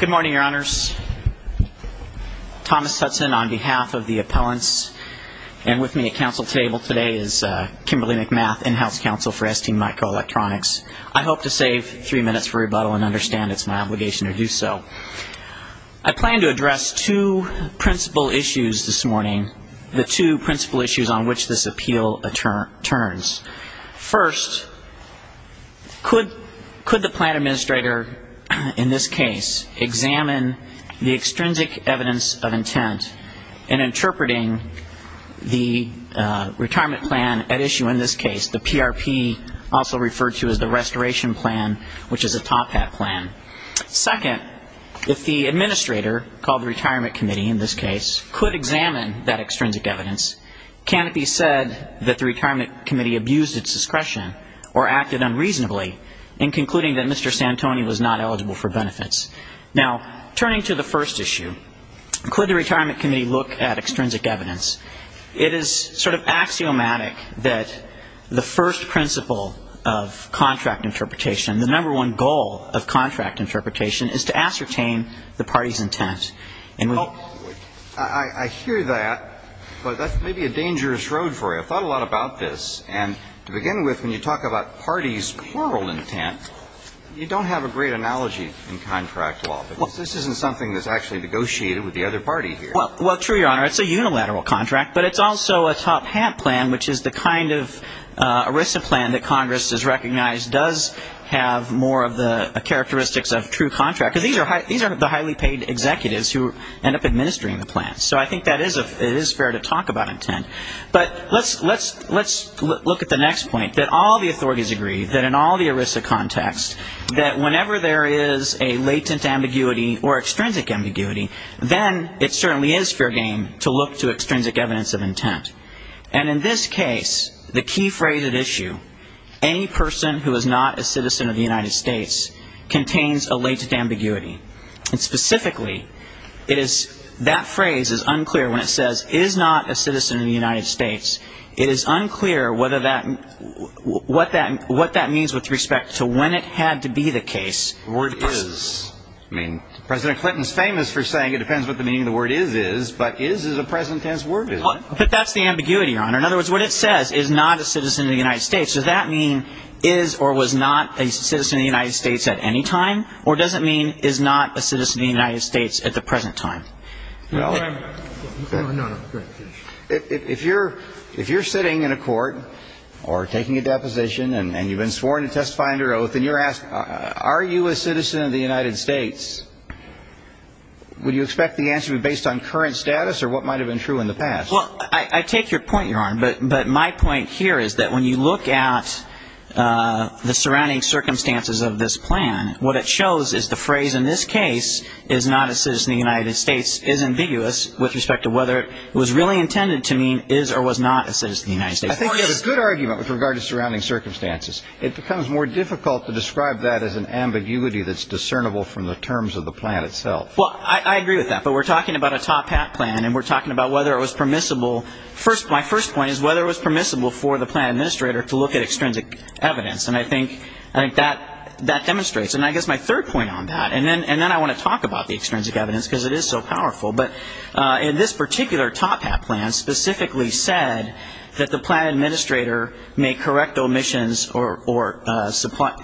Good morning, your honors. Thomas Hudson on behalf of the appellants and with me at council table today is Kimberly McMath, in-house counsel for STMicroelectronics. I hope to save three minutes for rebuttal and understand it's my obligation to do so. I plan to address two principal issues this morning, the two principal issues on which this appeal turns. First, could the plan administrator in this case examine the extrinsic evidence of intent in interpreting the retirement plan at issue in this case, the PRP also referred to as the restoration plan, which is a top hat plan. Second, if the administrator, called the retirement committee in this case, could examine that extrinsic evidence, can it be said that the plan or acted unreasonably in concluding that Mr. Santoni was not eligible for benefits? Now, turning to the first issue, could the retirement committee look at extrinsic evidence? It is sort of axiomatic that the first principle of contract interpretation, the number one goal of contract interpretation, is to ascertain the party's intent. And I hear that, but that's maybe a dangerous road for you. I thought a lot about this. And to begin with, when you talk about party's plural intent, you don't have a great analogy in contract law. This isn't something that's actually negotiated with the other party here. Well, true, Your Honor. It's a unilateral contract, but it's also a top hat plan, which is the kind of ERISA plan that Congress has recognized does have more of the characteristics of true contract. These are the highly paid executives who end up administering the plan. So I think that it is fair to talk about intent. But let's look at the next point, that all the authorities agree that in all the ERISA context, that whenever there is a latent ambiguity or extrinsic ambiguity, then it certainly is fair game to look to extrinsic evidence of intent. And in this case, the key phrase at issue, any person who is not a citizen of the United States contains a latent ambiguity. And specifically, it is that phrase is unclear when it says, is not a citizen of the United States. It is unclear whether that, what that means with respect to when it had to be the case. The word is. I mean, President Clinton is famous for saying it depends what the meaning of the word is, is. But is is a present tense word, isn't it? But that's the ambiguity, Your Honor. In other words, what it says is not a citizen of the United States. Does that mean is or was not a citizen of the United States at any time? Or does it mean is not a citizen of the United States at the present time? Well. No, no. Go ahead. If you're sitting in a court or taking a deposition and you've been sworn to testify under oath and you're asked, are you a citizen of the United States, would you expect the answer to be based on current status or what might have been true in the past? Well, I take your point, Your Honor. But my point here is that when you look at the surrounding circumstances of this plan, what it shows is the phrase in this case is not a citizen of the United States is ambiguous with respect to whether it was really intended to mean is or was not a citizen of the United States. I think you have a good argument with regard to surrounding circumstances. It becomes more difficult to describe that as an ambiguity that's discernible from the terms of the plan itself. Well, I agree with that. But we're talking about a top hat plan and we're talking about whether it was permissible. My first point is whether it was permissible for the plan administrator to look at extrinsic evidence. And I think that demonstrates. And I guess my point is I want to talk about the extrinsic evidence because it is so powerful. But in this particular top hat plan specifically said that the plan administrator may correct omissions or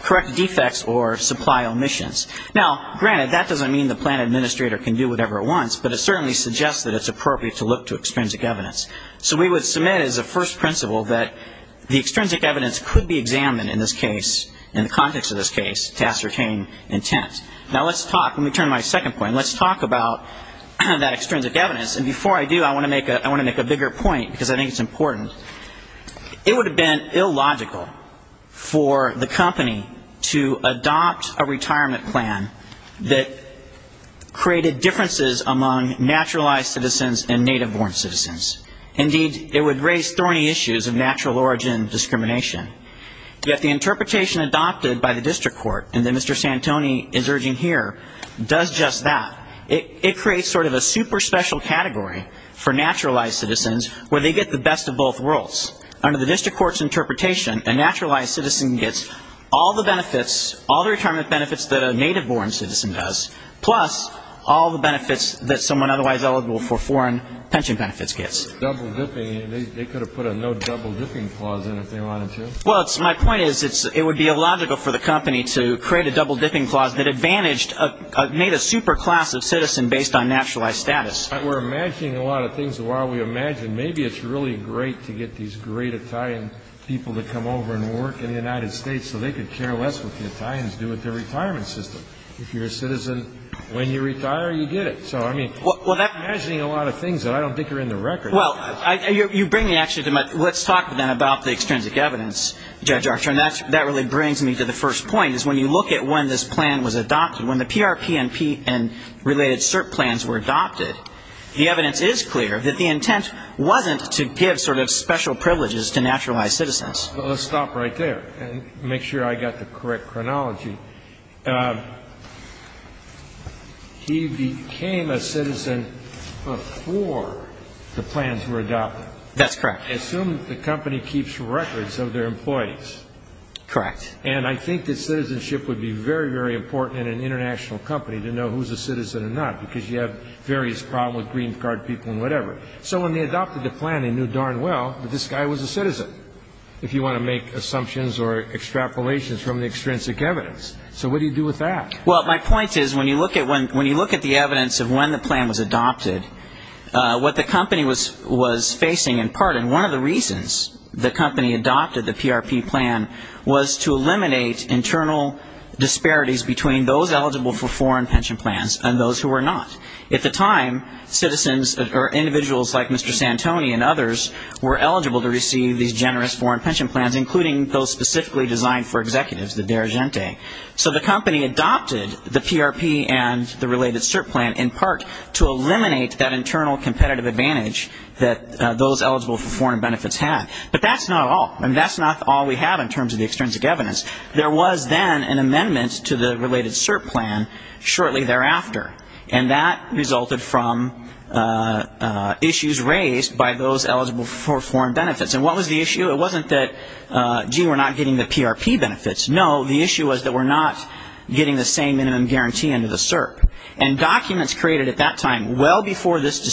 correct defects or supply omissions. Now, granted, that doesn't mean the plan administrator can do whatever it wants, but it certainly suggests that it's appropriate to look to extrinsic evidence. So we would submit as a first principle that the extrinsic evidence could be examined in this case, in the context of this case, to ascertain intent. Now, let's talk. Let me turn to my second point. And let's talk about that extrinsic evidence. And before I do, I want to make a bigger point because I think it's important. It would have been illogical for the company to adopt a retirement plan that created differences among naturalized citizens and native-born citizens. Indeed, it would raise thorny issues of natural origin discrimination. Yet the interpretation adopted by the does just that. It creates sort of a super special category for naturalized citizens where they get the best of both worlds. Under the district court's interpretation, a naturalized citizen gets all the benefits, all the retirement benefits that a native-born citizen does, plus all the benefits that someone otherwise eligible for foreign pension benefits gets. They could have put a no double dipping clause in if they wanted to. Well, my point is it would be illogical for the company to create a double dipping clause that made a super class of citizen based on naturalized status. But we're imagining a lot of things. And while we imagine, maybe it's really great to get these great Italian people to come over and work in the United States so they could care less what the Italians do with their retirement system. If you're a citizen, when you retire, you get it. So I mean, we're imagining a lot of things that I don't think are in the record. Well, you bring me actually to my, let's talk then about the extrinsic evidence, Judge Archer. And that really brings me to the first point is when you look at when this plan was adopted, when the PRPNP and related CERP plans were adopted, the evidence is clear that the intent wasn't to give sort of special privileges to naturalized citizens. Well, let's stop right there and make sure I got the correct chronology. He became a citizen before the plans were adopted. That's correct. Assume that the company keeps records of their employees. Correct. And I think that citizenship would be very, very important in an international company to know who's a citizen or not, because you have various problems with green card people and whatever. So when they adopted the plan, they knew darn well that this guy was a citizen, if you want to make assumptions or extrapolations from the extrinsic evidence. So what do you do with that? Well, my point is when you look at the evidence of when the plan was adopted, what the company was facing in part, and one of the reasons the company adopted the PRP plan, was to eliminate internal disparities between those eligible for foreign pension plans and those who were not. At the time, citizens or individuals like Mr. Santoni and others were eligible to receive these generous foreign pension plans, including those specifically designed for executives, the Deragente. So the company adopted the PRP and the related CERP plan in part to eliminate that internal competitive advantage that those eligible for foreign benefits had. But that's not all. That's not all we have in terms of the extrinsic evidence. There was then an amendment to the related CERP plan shortly thereafter, and that resulted from issues raised by those eligible for foreign benefits. And what was the issue? It wasn't that, gee, we're not getting the PRP benefits. No, the issue was that we're not getting the same minimum guarantee under the CERP. And documents created at that time, well before this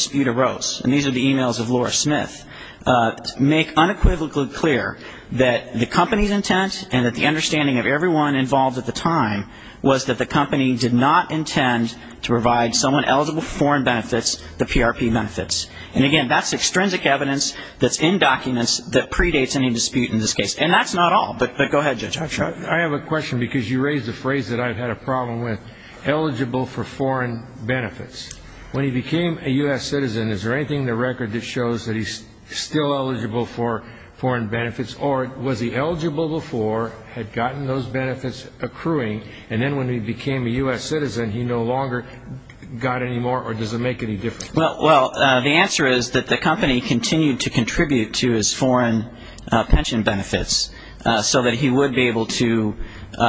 make unequivocally clear that the company's intent and that the understanding of everyone involved at the time was that the company did not intend to provide someone eligible for foreign benefits the PRP benefits. And, again, that's extrinsic evidence that's in documents that predates any dispute in this case. And that's not all. But go ahead, Judge. I have a question, because you raised a phrase that I've had a problem with, eligible for foreign benefits. When he became a U.S. citizen, is there anything in the record that shows that he's still eligible for foreign benefits, or was he eligible before, had gotten those benefits accruing, and then when he became a U.S. citizen, he no longer got any more, or does it make any difference? Well, the answer is that the company continued to contribute to his foreign pension benefits so that he would be able to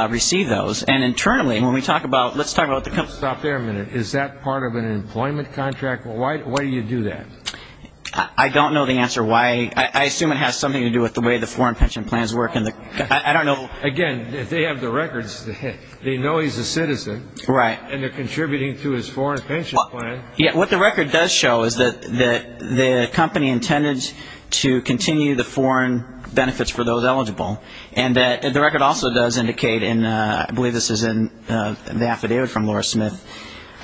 receive those. And internally, when we talk about, let's talk about the company. Stop there a minute. Is that part of an employment contract? Why do you do that? I don't know the answer why. I assume it has something to do with the way the foreign pension plans work. I don't know. Again, they have the records. They know he's a citizen. Right. And they're contributing to his foreign pension plan. What the record does show is that the company intended to continue the foreign pension benefits. This is in the affidavit from Laura Smith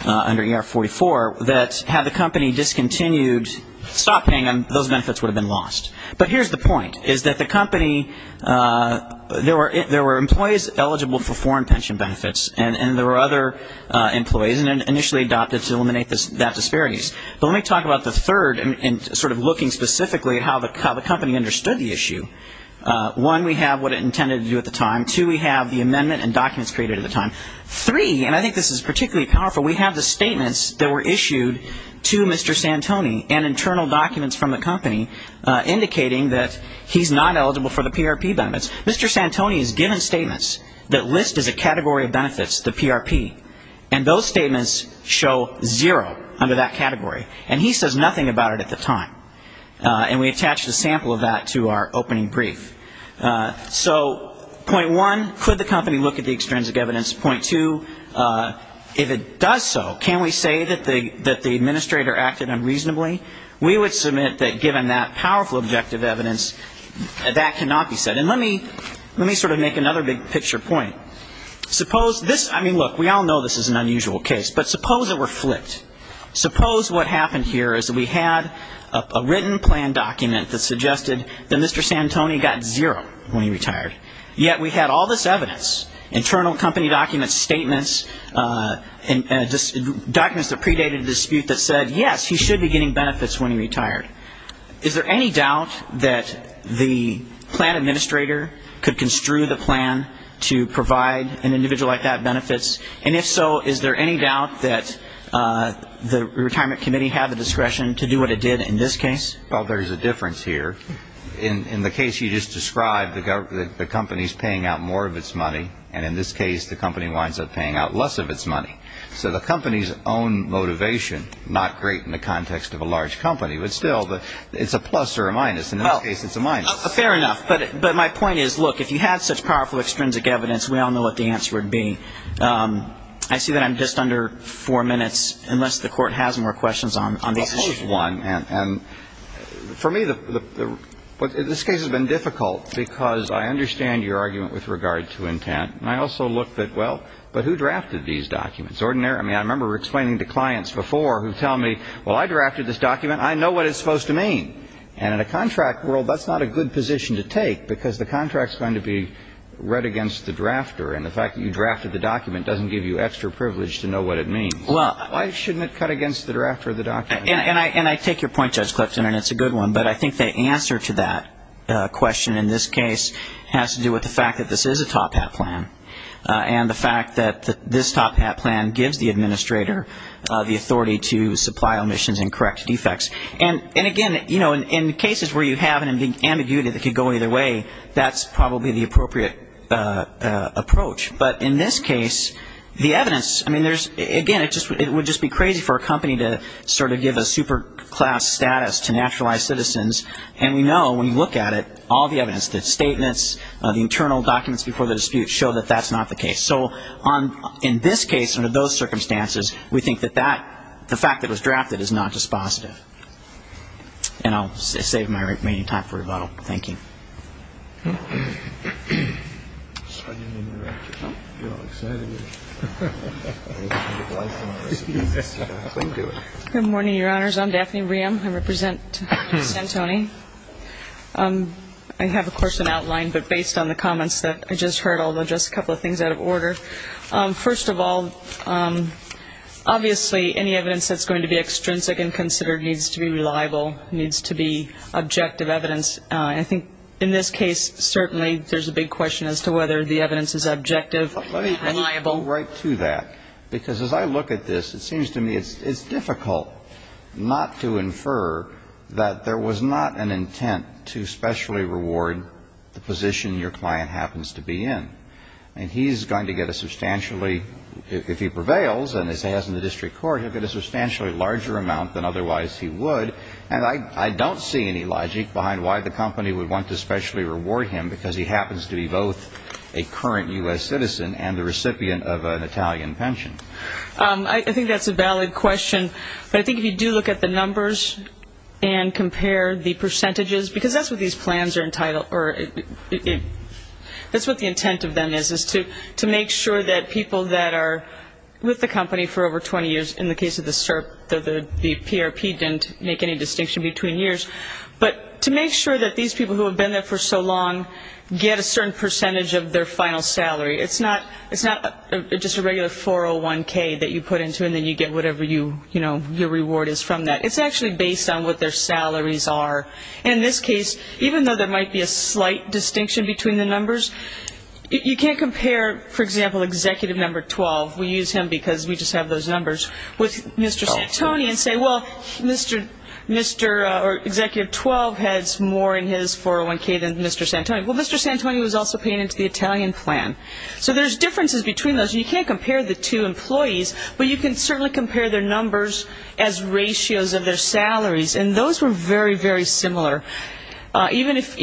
under ER44, that had the company discontinued, stopped paying them, those benefits would have been lost. But here's the point, is that the company, there were employees eligible for foreign pension benefits, and there were other employees initially adopted to eliminate that disparities. But let me talk about the third, and sort of looking specifically at how the company understood the issue. One, we have what it intended to do at the time. Two, we have the amendment and documents created at the time. Three, and I think this is particularly powerful, we have the statements that were issued to Mr. Santoni, and internal documents from the company, indicating that he's not eligible for the PRP benefits. Mr. Santoni is given statements that list as a category of benefits the PRP. And those statements show zero under that category. And he says nothing about it at the time. And we attached a sample of that to our opening brief. So, point one, could the company look at the extrinsic evidence? Point two, if it does so, can we say that the administrator acted unreasonably? We would submit that given that powerful objective evidence, that cannot be said. And let me sort of make another big picture point. Suppose this, I mean, look, we all know this is an unusual case. But suppose it were flicked. Suppose what happened here is that we had a written plan document that suggested that Mr. Santoni got zero when he retired. Yet we had all this evidence, internal company documents, statements, documents that predated the dispute that said, yes, he should be getting benefits when he retired. Is there any doubt that the plan administrator could construe the plan to provide an individual like that benefits? And if so, is there any doubt that the retirement committee had the discretion to do what it did in this case? Well, there's a difference here. In the case you just described, the company's paying out more of its money. And in this case, the company winds up paying out less of its money. So the company's own motivation, not great in the context of a large company. But still, it's a plus or a minus. In this case, it's a minus. Fair enough. But my point is, look, if you had such powerful extrinsic evidence, we all know what the answer would be. I see that I'm just under four minutes, unless the Court has more questions on these issues. I'll pose one. And for me, this case has been difficult, because I understand your argument with regard to intent. And I also look at, well, but who drafted these documents? I mean, I remember explaining to clients before who tell me, well, I drafted this document. I know what it's supposed to mean. And in a contract world, that's not a good position to take, because the contract's going to be read against the drafter. And the fact that you drafted the document doesn't give you extra privilege to know what it means. Why shouldn't it cut against the drafter of the document? And I take your point, Judge Clifton, and it's a good one. But I think the answer to that question in this case has to do with the fact that this is a top-hat plan and the fact that this top-hat plan gives the administrator the authority to supply omissions and correct defects. And, again, you know, in cases where you have an ambiguity that could go either way, that's probably the appropriate approach. But in this case, the evidence, I mean, again, it would just be crazy for a company to sort of give a super-class status to naturalized citizens, and we know when you look at it, all the evidence, the statements, the internal documents before the dispute show that that's not the case. So in this case, under those circumstances, we think that the fact that it was drafted is not dispositive. And I'll save my remaining time for rebuttal. Thank you. Good morning, Your Honors. I'm Daphne Rehm. I represent San Antonio. I have, of course, an outline, but based on the comments that I just heard, I'll address a couple of things out of order. First of all, obviously, any evidence that's going to be extrinsic and considered needs to be reliable, needs to be objective evidence. I think in this case, certainly, there's a big question as to whether the evidence is objective and reliable. Let me go right to that, because as I look at this, it seems to me it's difficult not to infer that there was not an intent to specially reward the position your client happens to be in. And he's going to get a substantially, if he prevails, and as he has in the district court, he'll get a substantially larger amount than otherwise he would. And I don't see any logic behind why the company would want to specially reward him, because he happens to be both a current U.S. citizen and the recipient of an Italian pension. I think that's a valid question. But I think if you do look at the numbers and compare the percentages, because that's what these plans are entitled, or that's what the intent of them is, is to make sure that people that are with the company for over 20 years, in the case of the CERP, the PRP didn't make any distinction between years, but to make sure that these people who have been there for so long get a certain percentage of their final salary. It's not just a regular 401K that you put into, and then you get whatever your reward is from that. It's actually based on what their salaries are. And in this case, even though there might be a slight distinction between the numbers, you can't compare, for example, Executive Number 12, we use him because we just have those numbers, with Mr. Santoni and say, well, Mr. or Executive 12 has more in his 401K than Mr. Santoni. Well, Mr. Santoni was also paying into the Italian plan. So there's differences between those. You can't compare the two employees, but you can certainly compare their numbers as ratios of their salaries. And those were very, very similar, even if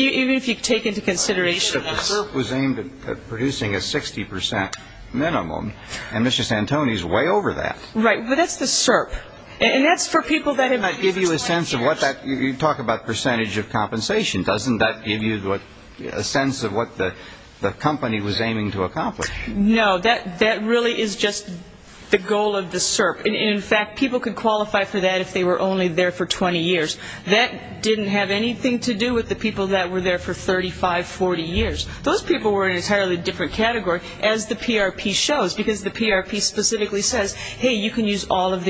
you take into consideration this. But the CERP was aimed at producing a 60 percent minimum, and Mr. Santoni is way over that. Right, but that's the CERP. And that's for people that it might give you a sense of what that you talk about percentage of compensation. Doesn't that give you a sense of what the company was aiming to accomplish? No, that really is just the goal of the CERP. And, in fact, people could qualify for that if they were only there for 20 years. That didn't have anything to do with the people that were there for 35, 40 years. Those people were in an entirely different category, as the PRP shows, because the PRP specifically says, hey, you can use all of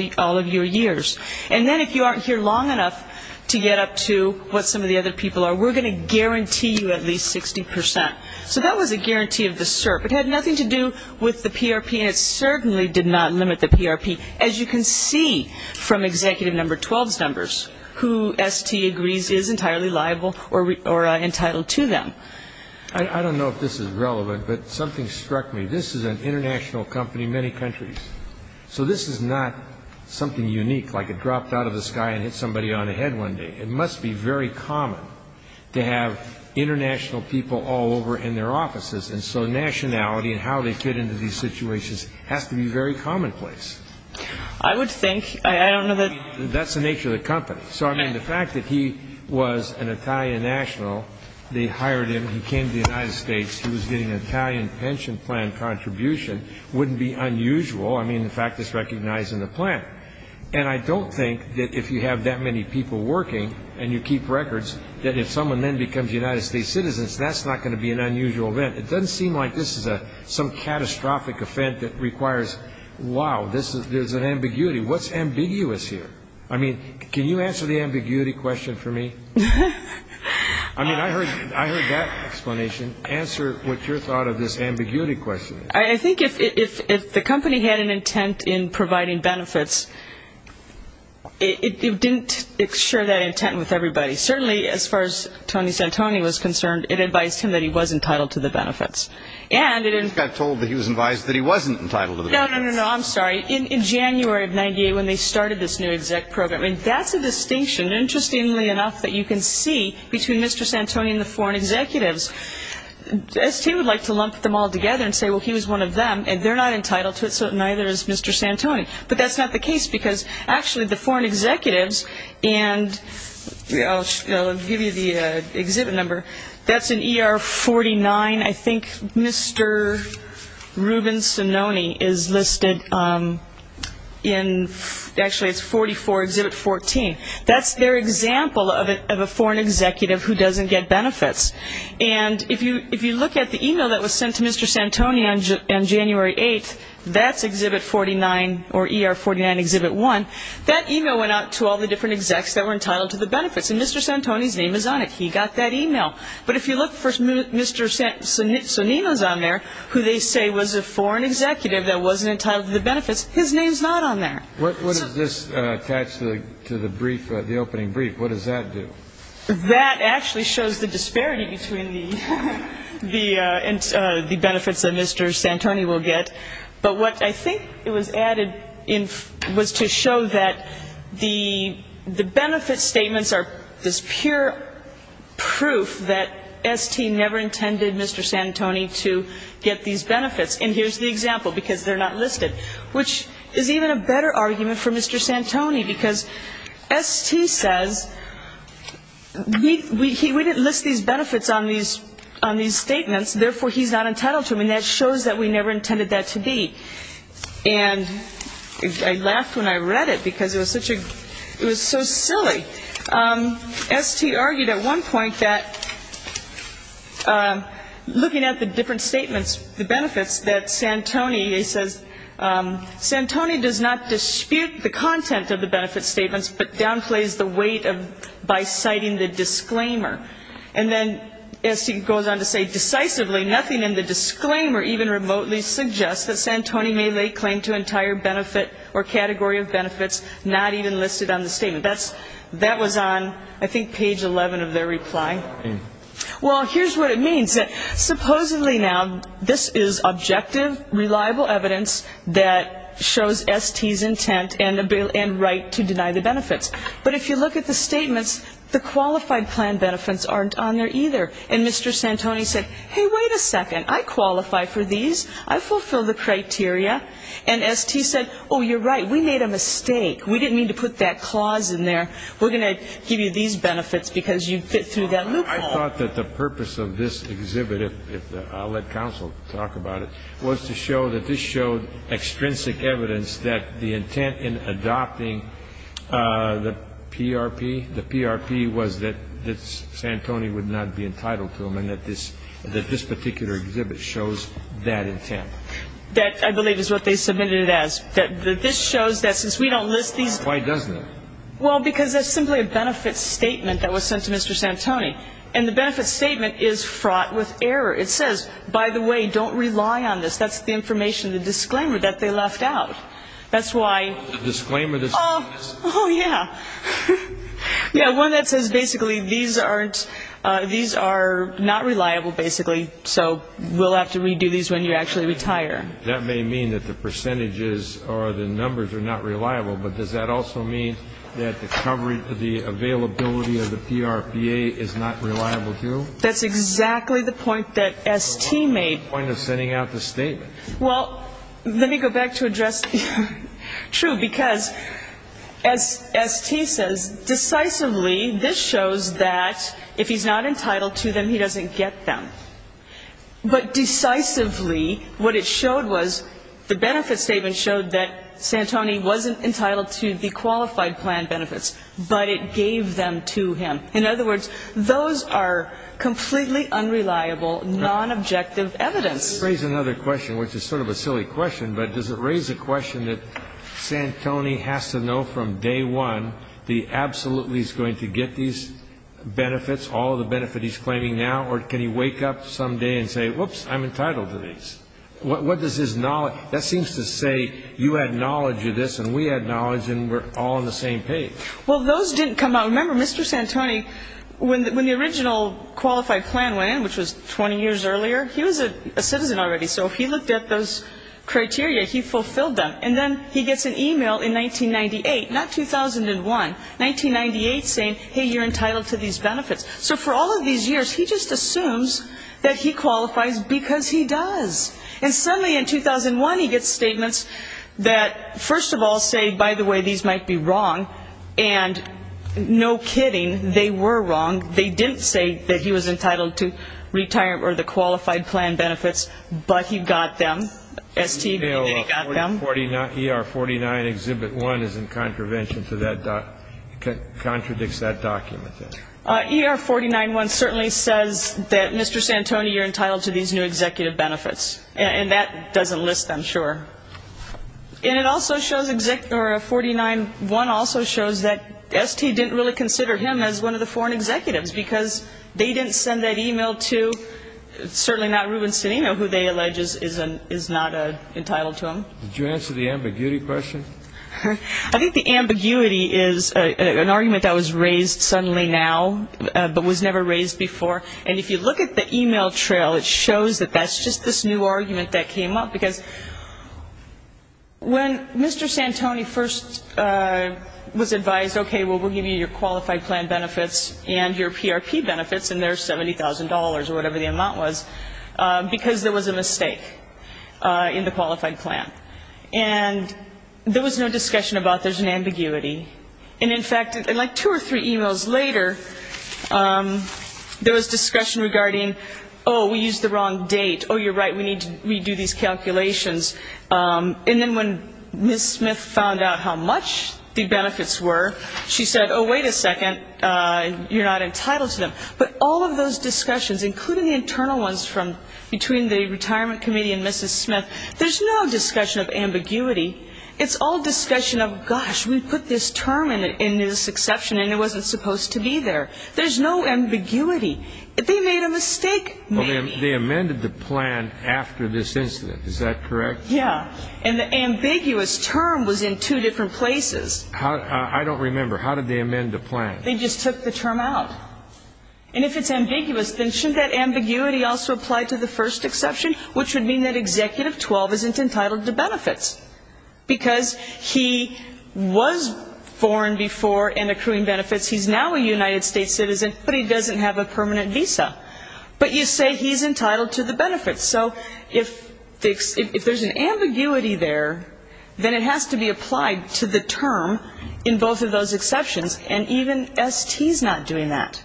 your years. And then if you aren't here long enough to get up to what some of the other people are, we're going to guarantee you at least 60 percent. So that was a guarantee of the CERP. It had nothing to do with the PRP, and it certainly did not limit the PRP, as you can see from Executive Number 12's numbers, who, S.T. agrees, is entirely liable or entitled to them. I don't know if this is relevant, but something struck me. This is an international company, many countries. So this is not something unique, like it dropped out of the sky and hit somebody on the head one day. It must be very common to have international people all over in their offices, and so nationality and how they fit into these situations has to be very commonplace. I would think. I don't know that. That's the nature of the company. So, I mean, the fact that he was an Italian national, they hired him, he came to the United States, he was getting an Italian pension plan contribution, wouldn't be unusual. I mean, the fact it's recognized in the plan. And I don't think that if you have that many people working and you keep records, that if someone then becomes a United States citizen, that's not going to be an unusual event. It doesn't seem like this is some catastrophic event that requires, wow, there's an ambiguity. What's ambiguous here? I mean, can you answer the ambiguity question for me? I mean, I heard that explanation. Answer what your thought of this ambiguity question is. I think if the company had an intent in providing benefits, it didn't share that intent with everybody. Certainly, as far as Tony Santoni was concerned, it advised him that he was entitled to the benefits. He just got told that he was advised that he wasn't entitled to the benefits. No, no, no, no. I'm sorry. In January of 98, when they started this new exec program, that's a distinction, interestingly enough, that you can see between Mr. Santoni and the foreign executives. ST would like to lump them all together and say, well, he was one of them, and they're not entitled to it, so neither is Mr. Santoni. But that's not the case because, actually, the foreign executives, and I'll give you the exhibit number. That's in ER 49. I think Mr. Ruben Sononi is listed in, actually, it's 44, exhibit 14. That's their example of a foreign executive who doesn't get benefits. And if you look at the e-mail that was sent to Mr. Santoni on January 8th, that's exhibit 49, or ER 49, exhibit 1. That e-mail went out to all the different execs that were entitled to the benefits. And Mr. Santoni's name is on it. He got that e-mail. But if you look for Mr. Sonino's on there, who they say was a foreign executive that wasn't entitled to the benefits, his name's not on there. What does this attach to the brief, the opening brief? What does that do? That actually shows the disparity between the benefits that Mr. Santoni will get. But what I think it was added in was to show that the benefit statements are this pure proof that ST never intended Mr. Santoni to get these benefits. And here's the example because they're not listed, which is even a better argument for Mr. Santoni because ST says we didn't list these benefits on these statements. Therefore, he's not entitled to them. And that shows that we never intended that to be. And I laughed when I read it because it was such a ‑‑ it was so silly. ST argued at one point that looking at the different statements, the benefits, that Santoni, he says, Santoni does not dispute the content of the benefit statements but downplays the weight by citing the disclaimer. And then ST goes on to say decisively nothing in the disclaimer even remotely suggests that Santoni may lay claim to entire benefit or category of benefits not even listed on the statement. That was on, I think, page 11 of their reply. Well, here's what it means. Supposedly now this is objective, reliable evidence that shows ST's intent and right to deny the benefits. But if you look at the statements, the qualified plan benefits aren't on there either. And Mr. Santoni said, hey, wait a second. I qualify for these. I fulfill the criteria. And ST said, oh, you're right. We made a mistake. We didn't mean to put that clause in there. We're going to give you these benefits because you fit through that loophole. I thought that the purpose of this exhibit, if I'll let counsel talk about it, was to show that this showed extrinsic evidence that the intent in adopting the PRP, the PRP was that Santoni would not be entitled to them and that this particular exhibit shows that intent. That I believe is what they submitted it as, that this shows that since we don't list these. Why doesn't it? Well, because that's simply a benefit statement that was sent to Mr. Santoni. And the benefit statement is fraught with error. It says, by the way, don't rely on this. That's the information, the disclaimer that they left out. That's why. The disclaimer that's on this? Oh, yeah. Yeah, one that says basically these are not reliable, basically, so we'll have to redo these when you actually retire. That may mean that the percentages or the numbers are not reliable. But does that also mean that the availability of the PRPA is not reliable, too? That's exactly the point that S.T. made. Point of sending out the statement. Well, let me go back to address, true, because as S.T. says, decisively this shows that if he's not entitled to them, he doesn't get them. But decisively what it showed was the benefit statement showed that Santoni wasn't entitled to the qualified plan benefits, but it gave them to him. In other words, those are completely unreliable, nonobjective evidence. Raise another question, which is sort of a silly question, but does it raise the question that Santoni has to know from day one that he absolutely is going to get these benefits, all the benefit he's claiming now, or can he wake up some day and say, whoops, I'm entitled to these? What does his knowledge, that seems to say you had knowledge of this and we had knowledge and we're all on the same page. Well, those didn't come out. Remember, Mr. Santoni, when the original qualified plan went in, which was 20 years earlier, he was a citizen already, so if he looked at those criteria, he fulfilled them. And then he gets an e-mail in 1998, not 2001, 1998 saying, hey, you're entitled to these benefits. So for all of these years, he just assumes that he qualifies because he does. And suddenly in 2001, he gets statements that, first of all, say, by the way, these might be wrong, and no kidding, they were wrong. They didn't say that he was entitled to retirement or the qualified plan benefits, but he got them, STB, and then he got them. ER-49 Exhibit 1 is in contravention to that document, contradicts that document. ER-49-1 certainly says that Mr. Santoni, you're entitled to these new executive benefits, and that doesn't list them, sure. And it also shows, or 49-1 also shows that ST didn't really consider him as one of the foreign executives because they didn't send that e-mail to, certainly not Ruben Cedeno, who they allege is not entitled to them. Did you answer the ambiguity question? I think the ambiguity is an argument that was raised suddenly now, but was never raised before. And if you look at the e-mail trail, it shows that that's just this new argument that came up, because when Mr. Santoni first was advised, okay, well, we'll give you your qualified plan benefits and your PRP benefits, and there's $70,000 or whatever the amount was, because there was a mistake in the qualified plan. And there was no discussion about there's an ambiguity. And, in fact, like two or three e-mails later, there was discussion regarding, oh, we used the wrong date, oh, you're right, we need to redo these calculations. And then when Ms. Smith found out how much the benefits were, she said, oh, wait a second, you're not entitled to them. But all of those discussions, including the internal ones between the retirement committee and Mrs. Smith, there's no discussion of ambiguity. It's all discussion of, gosh, we put this term in this exception and it wasn't supposed to be there. There's no ambiguity. They made a mistake, Mary. They amended the plan after this incident. Is that correct? Yeah. And the ambiguous term was in two different places. I don't remember. How did they amend the plan? They just took the term out. And if it's ambiguous, then shouldn't that ambiguity also apply to the first exception, which would mean that Executive 12 isn't entitled to benefits, because he was foreign before and accruing benefits. He's now a United States citizen, but he doesn't have a permanent visa. But you say he's entitled to the benefits. So if there's an ambiguity there, then it has to be applied to the term in both of those exceptions, and even ST's not doing that.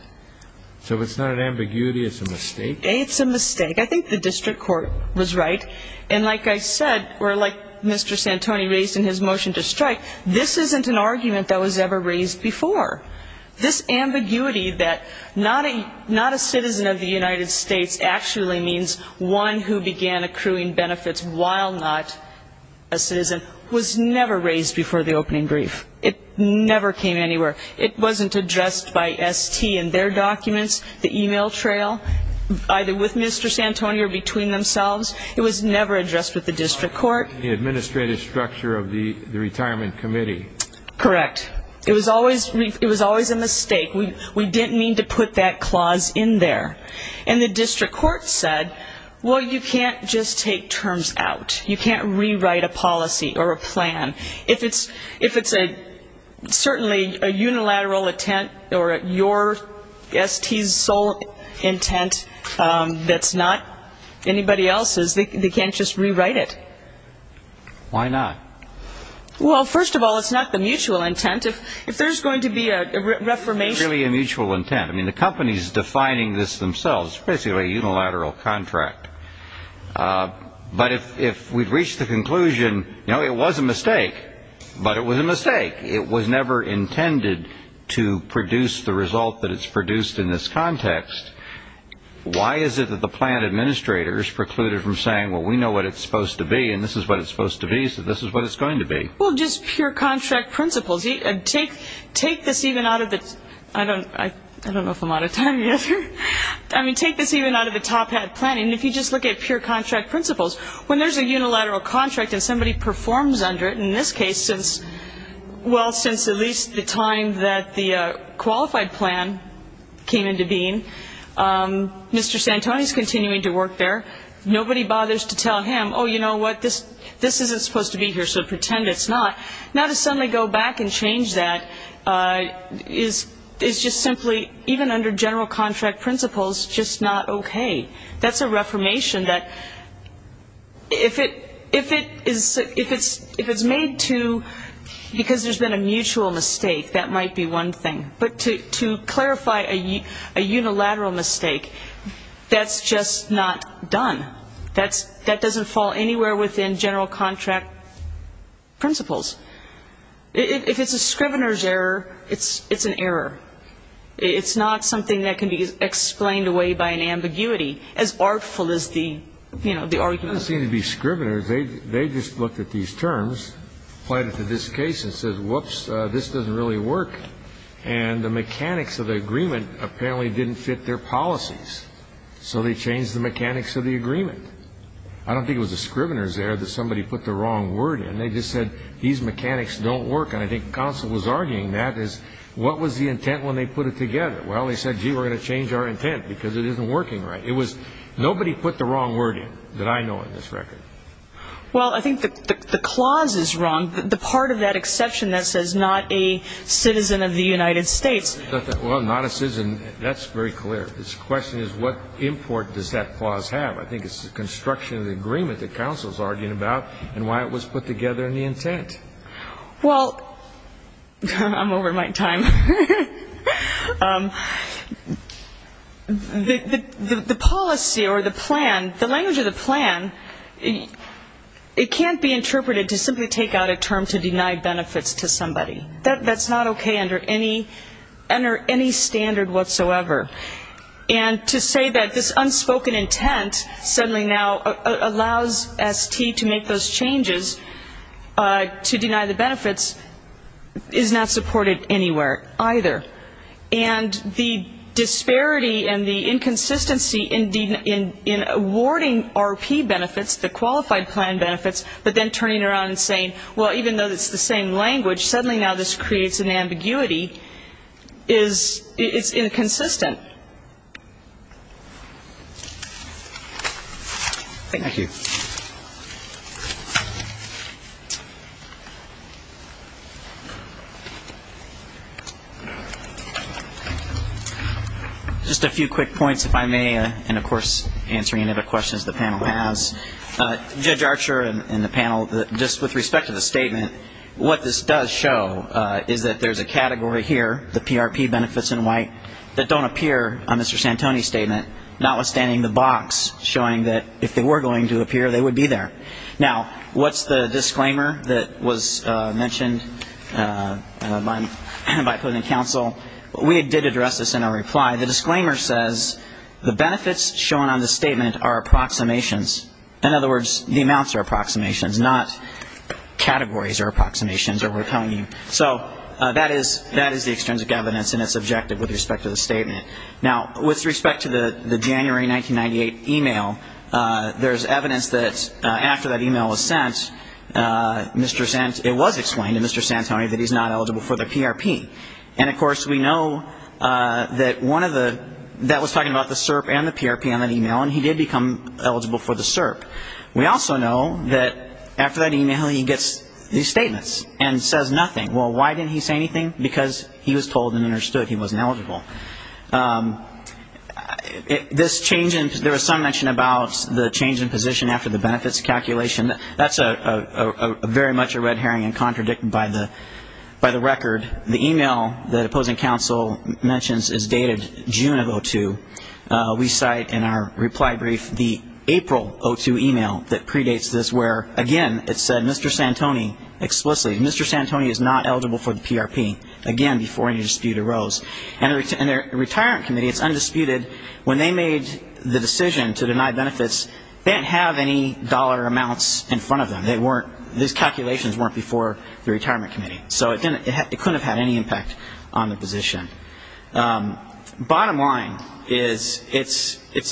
So it's not an ambiguity, it's a mistake? It's a mistake. I think the district court was right. And like I said, or like Mr. Santoni raised in his motion to strike, this isn't an argument that was ever raised before. This ambiguity that not a citizen of the United States actually means one who began accruing benefits while not a citizen was never raised before the opening brief. It never came anywhere. It wasn't addressed by ST in their documents, the e-mail trail, either with Mr. Santoni or between themselves. It was never addressed with the district court. The administrative structure of the retirement committee. Correct. Correct. It was always a mistake. We didn't mean to put that clause in there. And the district court said, well, you can't just take terms out. You can't rewrite a policy or a plan. If it's certainly a unilateral intent or your ST's sole intent that's not anybody else's, they can't just rewrite it. Why not? Well, first of all, it's not the mutual intent. If there's going to be a reformation. It's really a mutual intent. I mean, the company's defining this themselves. It's basically a unilateral contract. But if we've reached the conclusion, you know, it was a mistake, but it was a mistake. It was never intended to produce the result that it's produced in this context. Why is it that the plan administrators precluded from saying, well, we know what it's supposed to be and this is what it's supposed to be, so this is what it's going to be? Well, just pure contract principles. Take this even out of the top hat planning. If you just look at pure contract principles, when there's a unilateral contract and somebody performs under it, in this case, well, since at least the time that the qualified plan came into being, Mr. Santoni's continuing to work there. Nobody bothers to tell him, oh, you know what? This isn't supposed to be here, so pretend it's not. Now to suddenly go back and change that is just simply, even under general contract principles, just not okay. That's a reformation that if it's made to because there's been a mutual mistake, that might be one thing. But to clarify a unilateral mistake, that's just not done. That doesn't fall anywhere within general contract principles. If it's a scrivener's error, it's an error. It's not something that can be explained away by an ambiguity, as artful as the argument. It doesn't seem to be scriveners. They just looked at these terms, applied it to this case, and said, whoops, this doesn't really work. And the mechanics of the agreement apparently didn't fit their policies, so they changed the mechanics of the agreement. I don't think it was the scriveners' error that somebody put the wrong word in. They just said, these mechanics don't work. And I think the counsel was arguing that as what was the intent when they put it together. Well, they said, gee, we're going to change our intent because it isn't working right. It was nobody put the wrong word in that I know on this record. Well, I think the clause is wrong. The part of that exception that says not a citizen of the United States. Well, not a citizen, that's very clear. The question is what import does that clause have? I think it's the construction of the agreement that counsel is arguing about and why it was put together in the intent. Well, I'm over my time. The policy or the plan, the language of the plan, it can't be interpreted to simply take out a term to deny benefits to somebody. That's not okay under any standard whatsoever. And to say that this unspoken intent suddenly now allows ST to make those changes to deny the benefits is not supported anywhere either. And the disparity and the inconsistency in awarding RP benefits, the qualified plan benefits, but then turning around and saying, well, even though it's the same language, suddenly now this creates an ambiguity is inconsistent. Thank you. Just a few quick points, if I may, and, of course, answering any other questions the panel has. Judge Archer and the panel, just with respect to the statement, what this does show is that there's a category here, the PRP benefits in white, that don't appear on Mr. Santoni's statement, notwithstanding the box showing that if they were going to appear, they would be there. Now, what's the disclaimer that was mentioned by President Counsel? We did address this in our reply. The disclaimer says the benefits shown on the statement are approximations. In other words, the amounts are approximations, not categories or approximations that we're telling you. So that is the extrinsic evidence, and it's objective with respect to the statement. Now, with respect to the January 1998 e-mail, there's evidence that after that e-mail was sent, it was explained to Mr. Santoni that he's not eligible for the PRP. And, of course, we know that one of the that was talking about the CERP and the PRP on that e-mail, and he did become eligible for the CERP. We also know that after that e-mail, he gets these statements and says nothing. Well, why didn't he say anything? Because he was told and understood he wasn't eligible. This change in there was some mention about the change in position after the benefits calculation. That's very much a red herring and contradicted by the record. The e-mail that opposing counsel mentions is dated June of 2002. We cite in our reply brief the April 2002 e-mail that predates this, where, again, it said Mr. Santoni explicitly. Mr. Santoni is not eligible for the PRP, again, before any dispute arose. And the retirement committee, it's undisputed, when they made the decision to deny benefits, they didn't have any dollar amounts in front of them. These calculations weren't before the retirement committee. So it couldn't have had any impact on the position. Bottom line is it's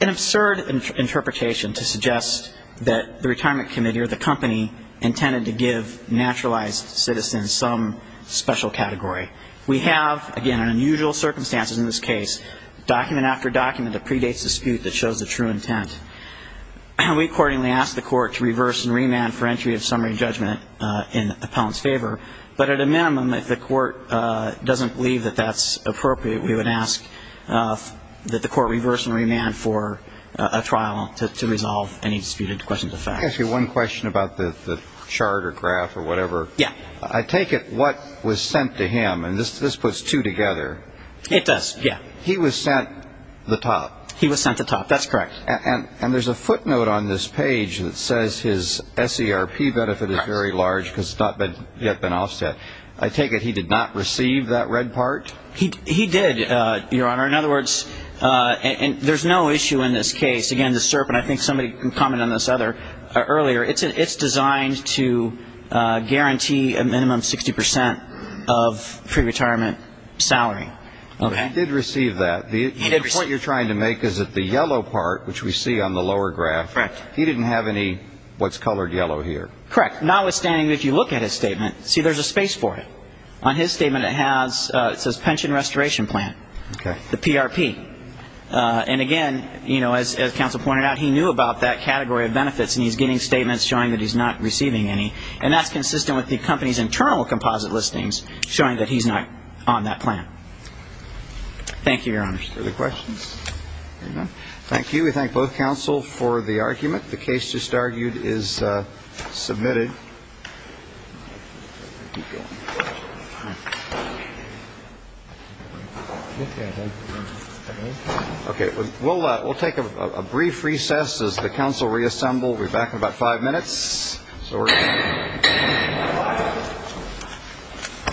an absurd interpretation to suggest that the retirement committee or the company intended to give naturalized citizens some special category. We have, again, unusual circumstances in this case, document after document that predates dispute that shows the true intent. We accordingly ask the court to reverse and remand for entry of summary judgment in the appellant's favor. But at a minimum, if the court doesn't believe that that's appropriate, we would ask that the court reverse and remand for a trial to resolve any disputed questions of fact. Let me ask you one question about the charter graph or whatever. Yeah. I take it what was sent to him, and this puts two together. It does, yeah. He was sent the top. He was sent the top. That's correct. And there's a footnote on this page that says his SERP benefit is very large because it's not yet been offset. I take it he did not receive that red part? He did, Your Honor. In other words, there's no issue in this case. Again, the SERP, and I think somebody commented on this earlier, it's designed to guarantee a minimum 60 percent of pre-retirement salary. He did receive that. The point you're trying to make is that the yellow part, which we see on the lower graph, he didn't have any what's colored yellow here. Correct. Notwithstanding, if you look at his statement, see, there's a space for it. On his statement it says pension restoration plan, the PRP. And, again, as counsel pointed out, he knew about that category of benefits, and he's getting statements showing that he's not receiving any, and that's consistent with the company's internal composite listings showing that he's not on that plan. Thank you, Your Honor. Further questions? There you go. Thank you. We thank both counsel for the argument. The case just argued is submitted. Okay. We'll take a brief recess as the counsel reassemble. We'll be back in about five minutes. So we're going to. Thank you.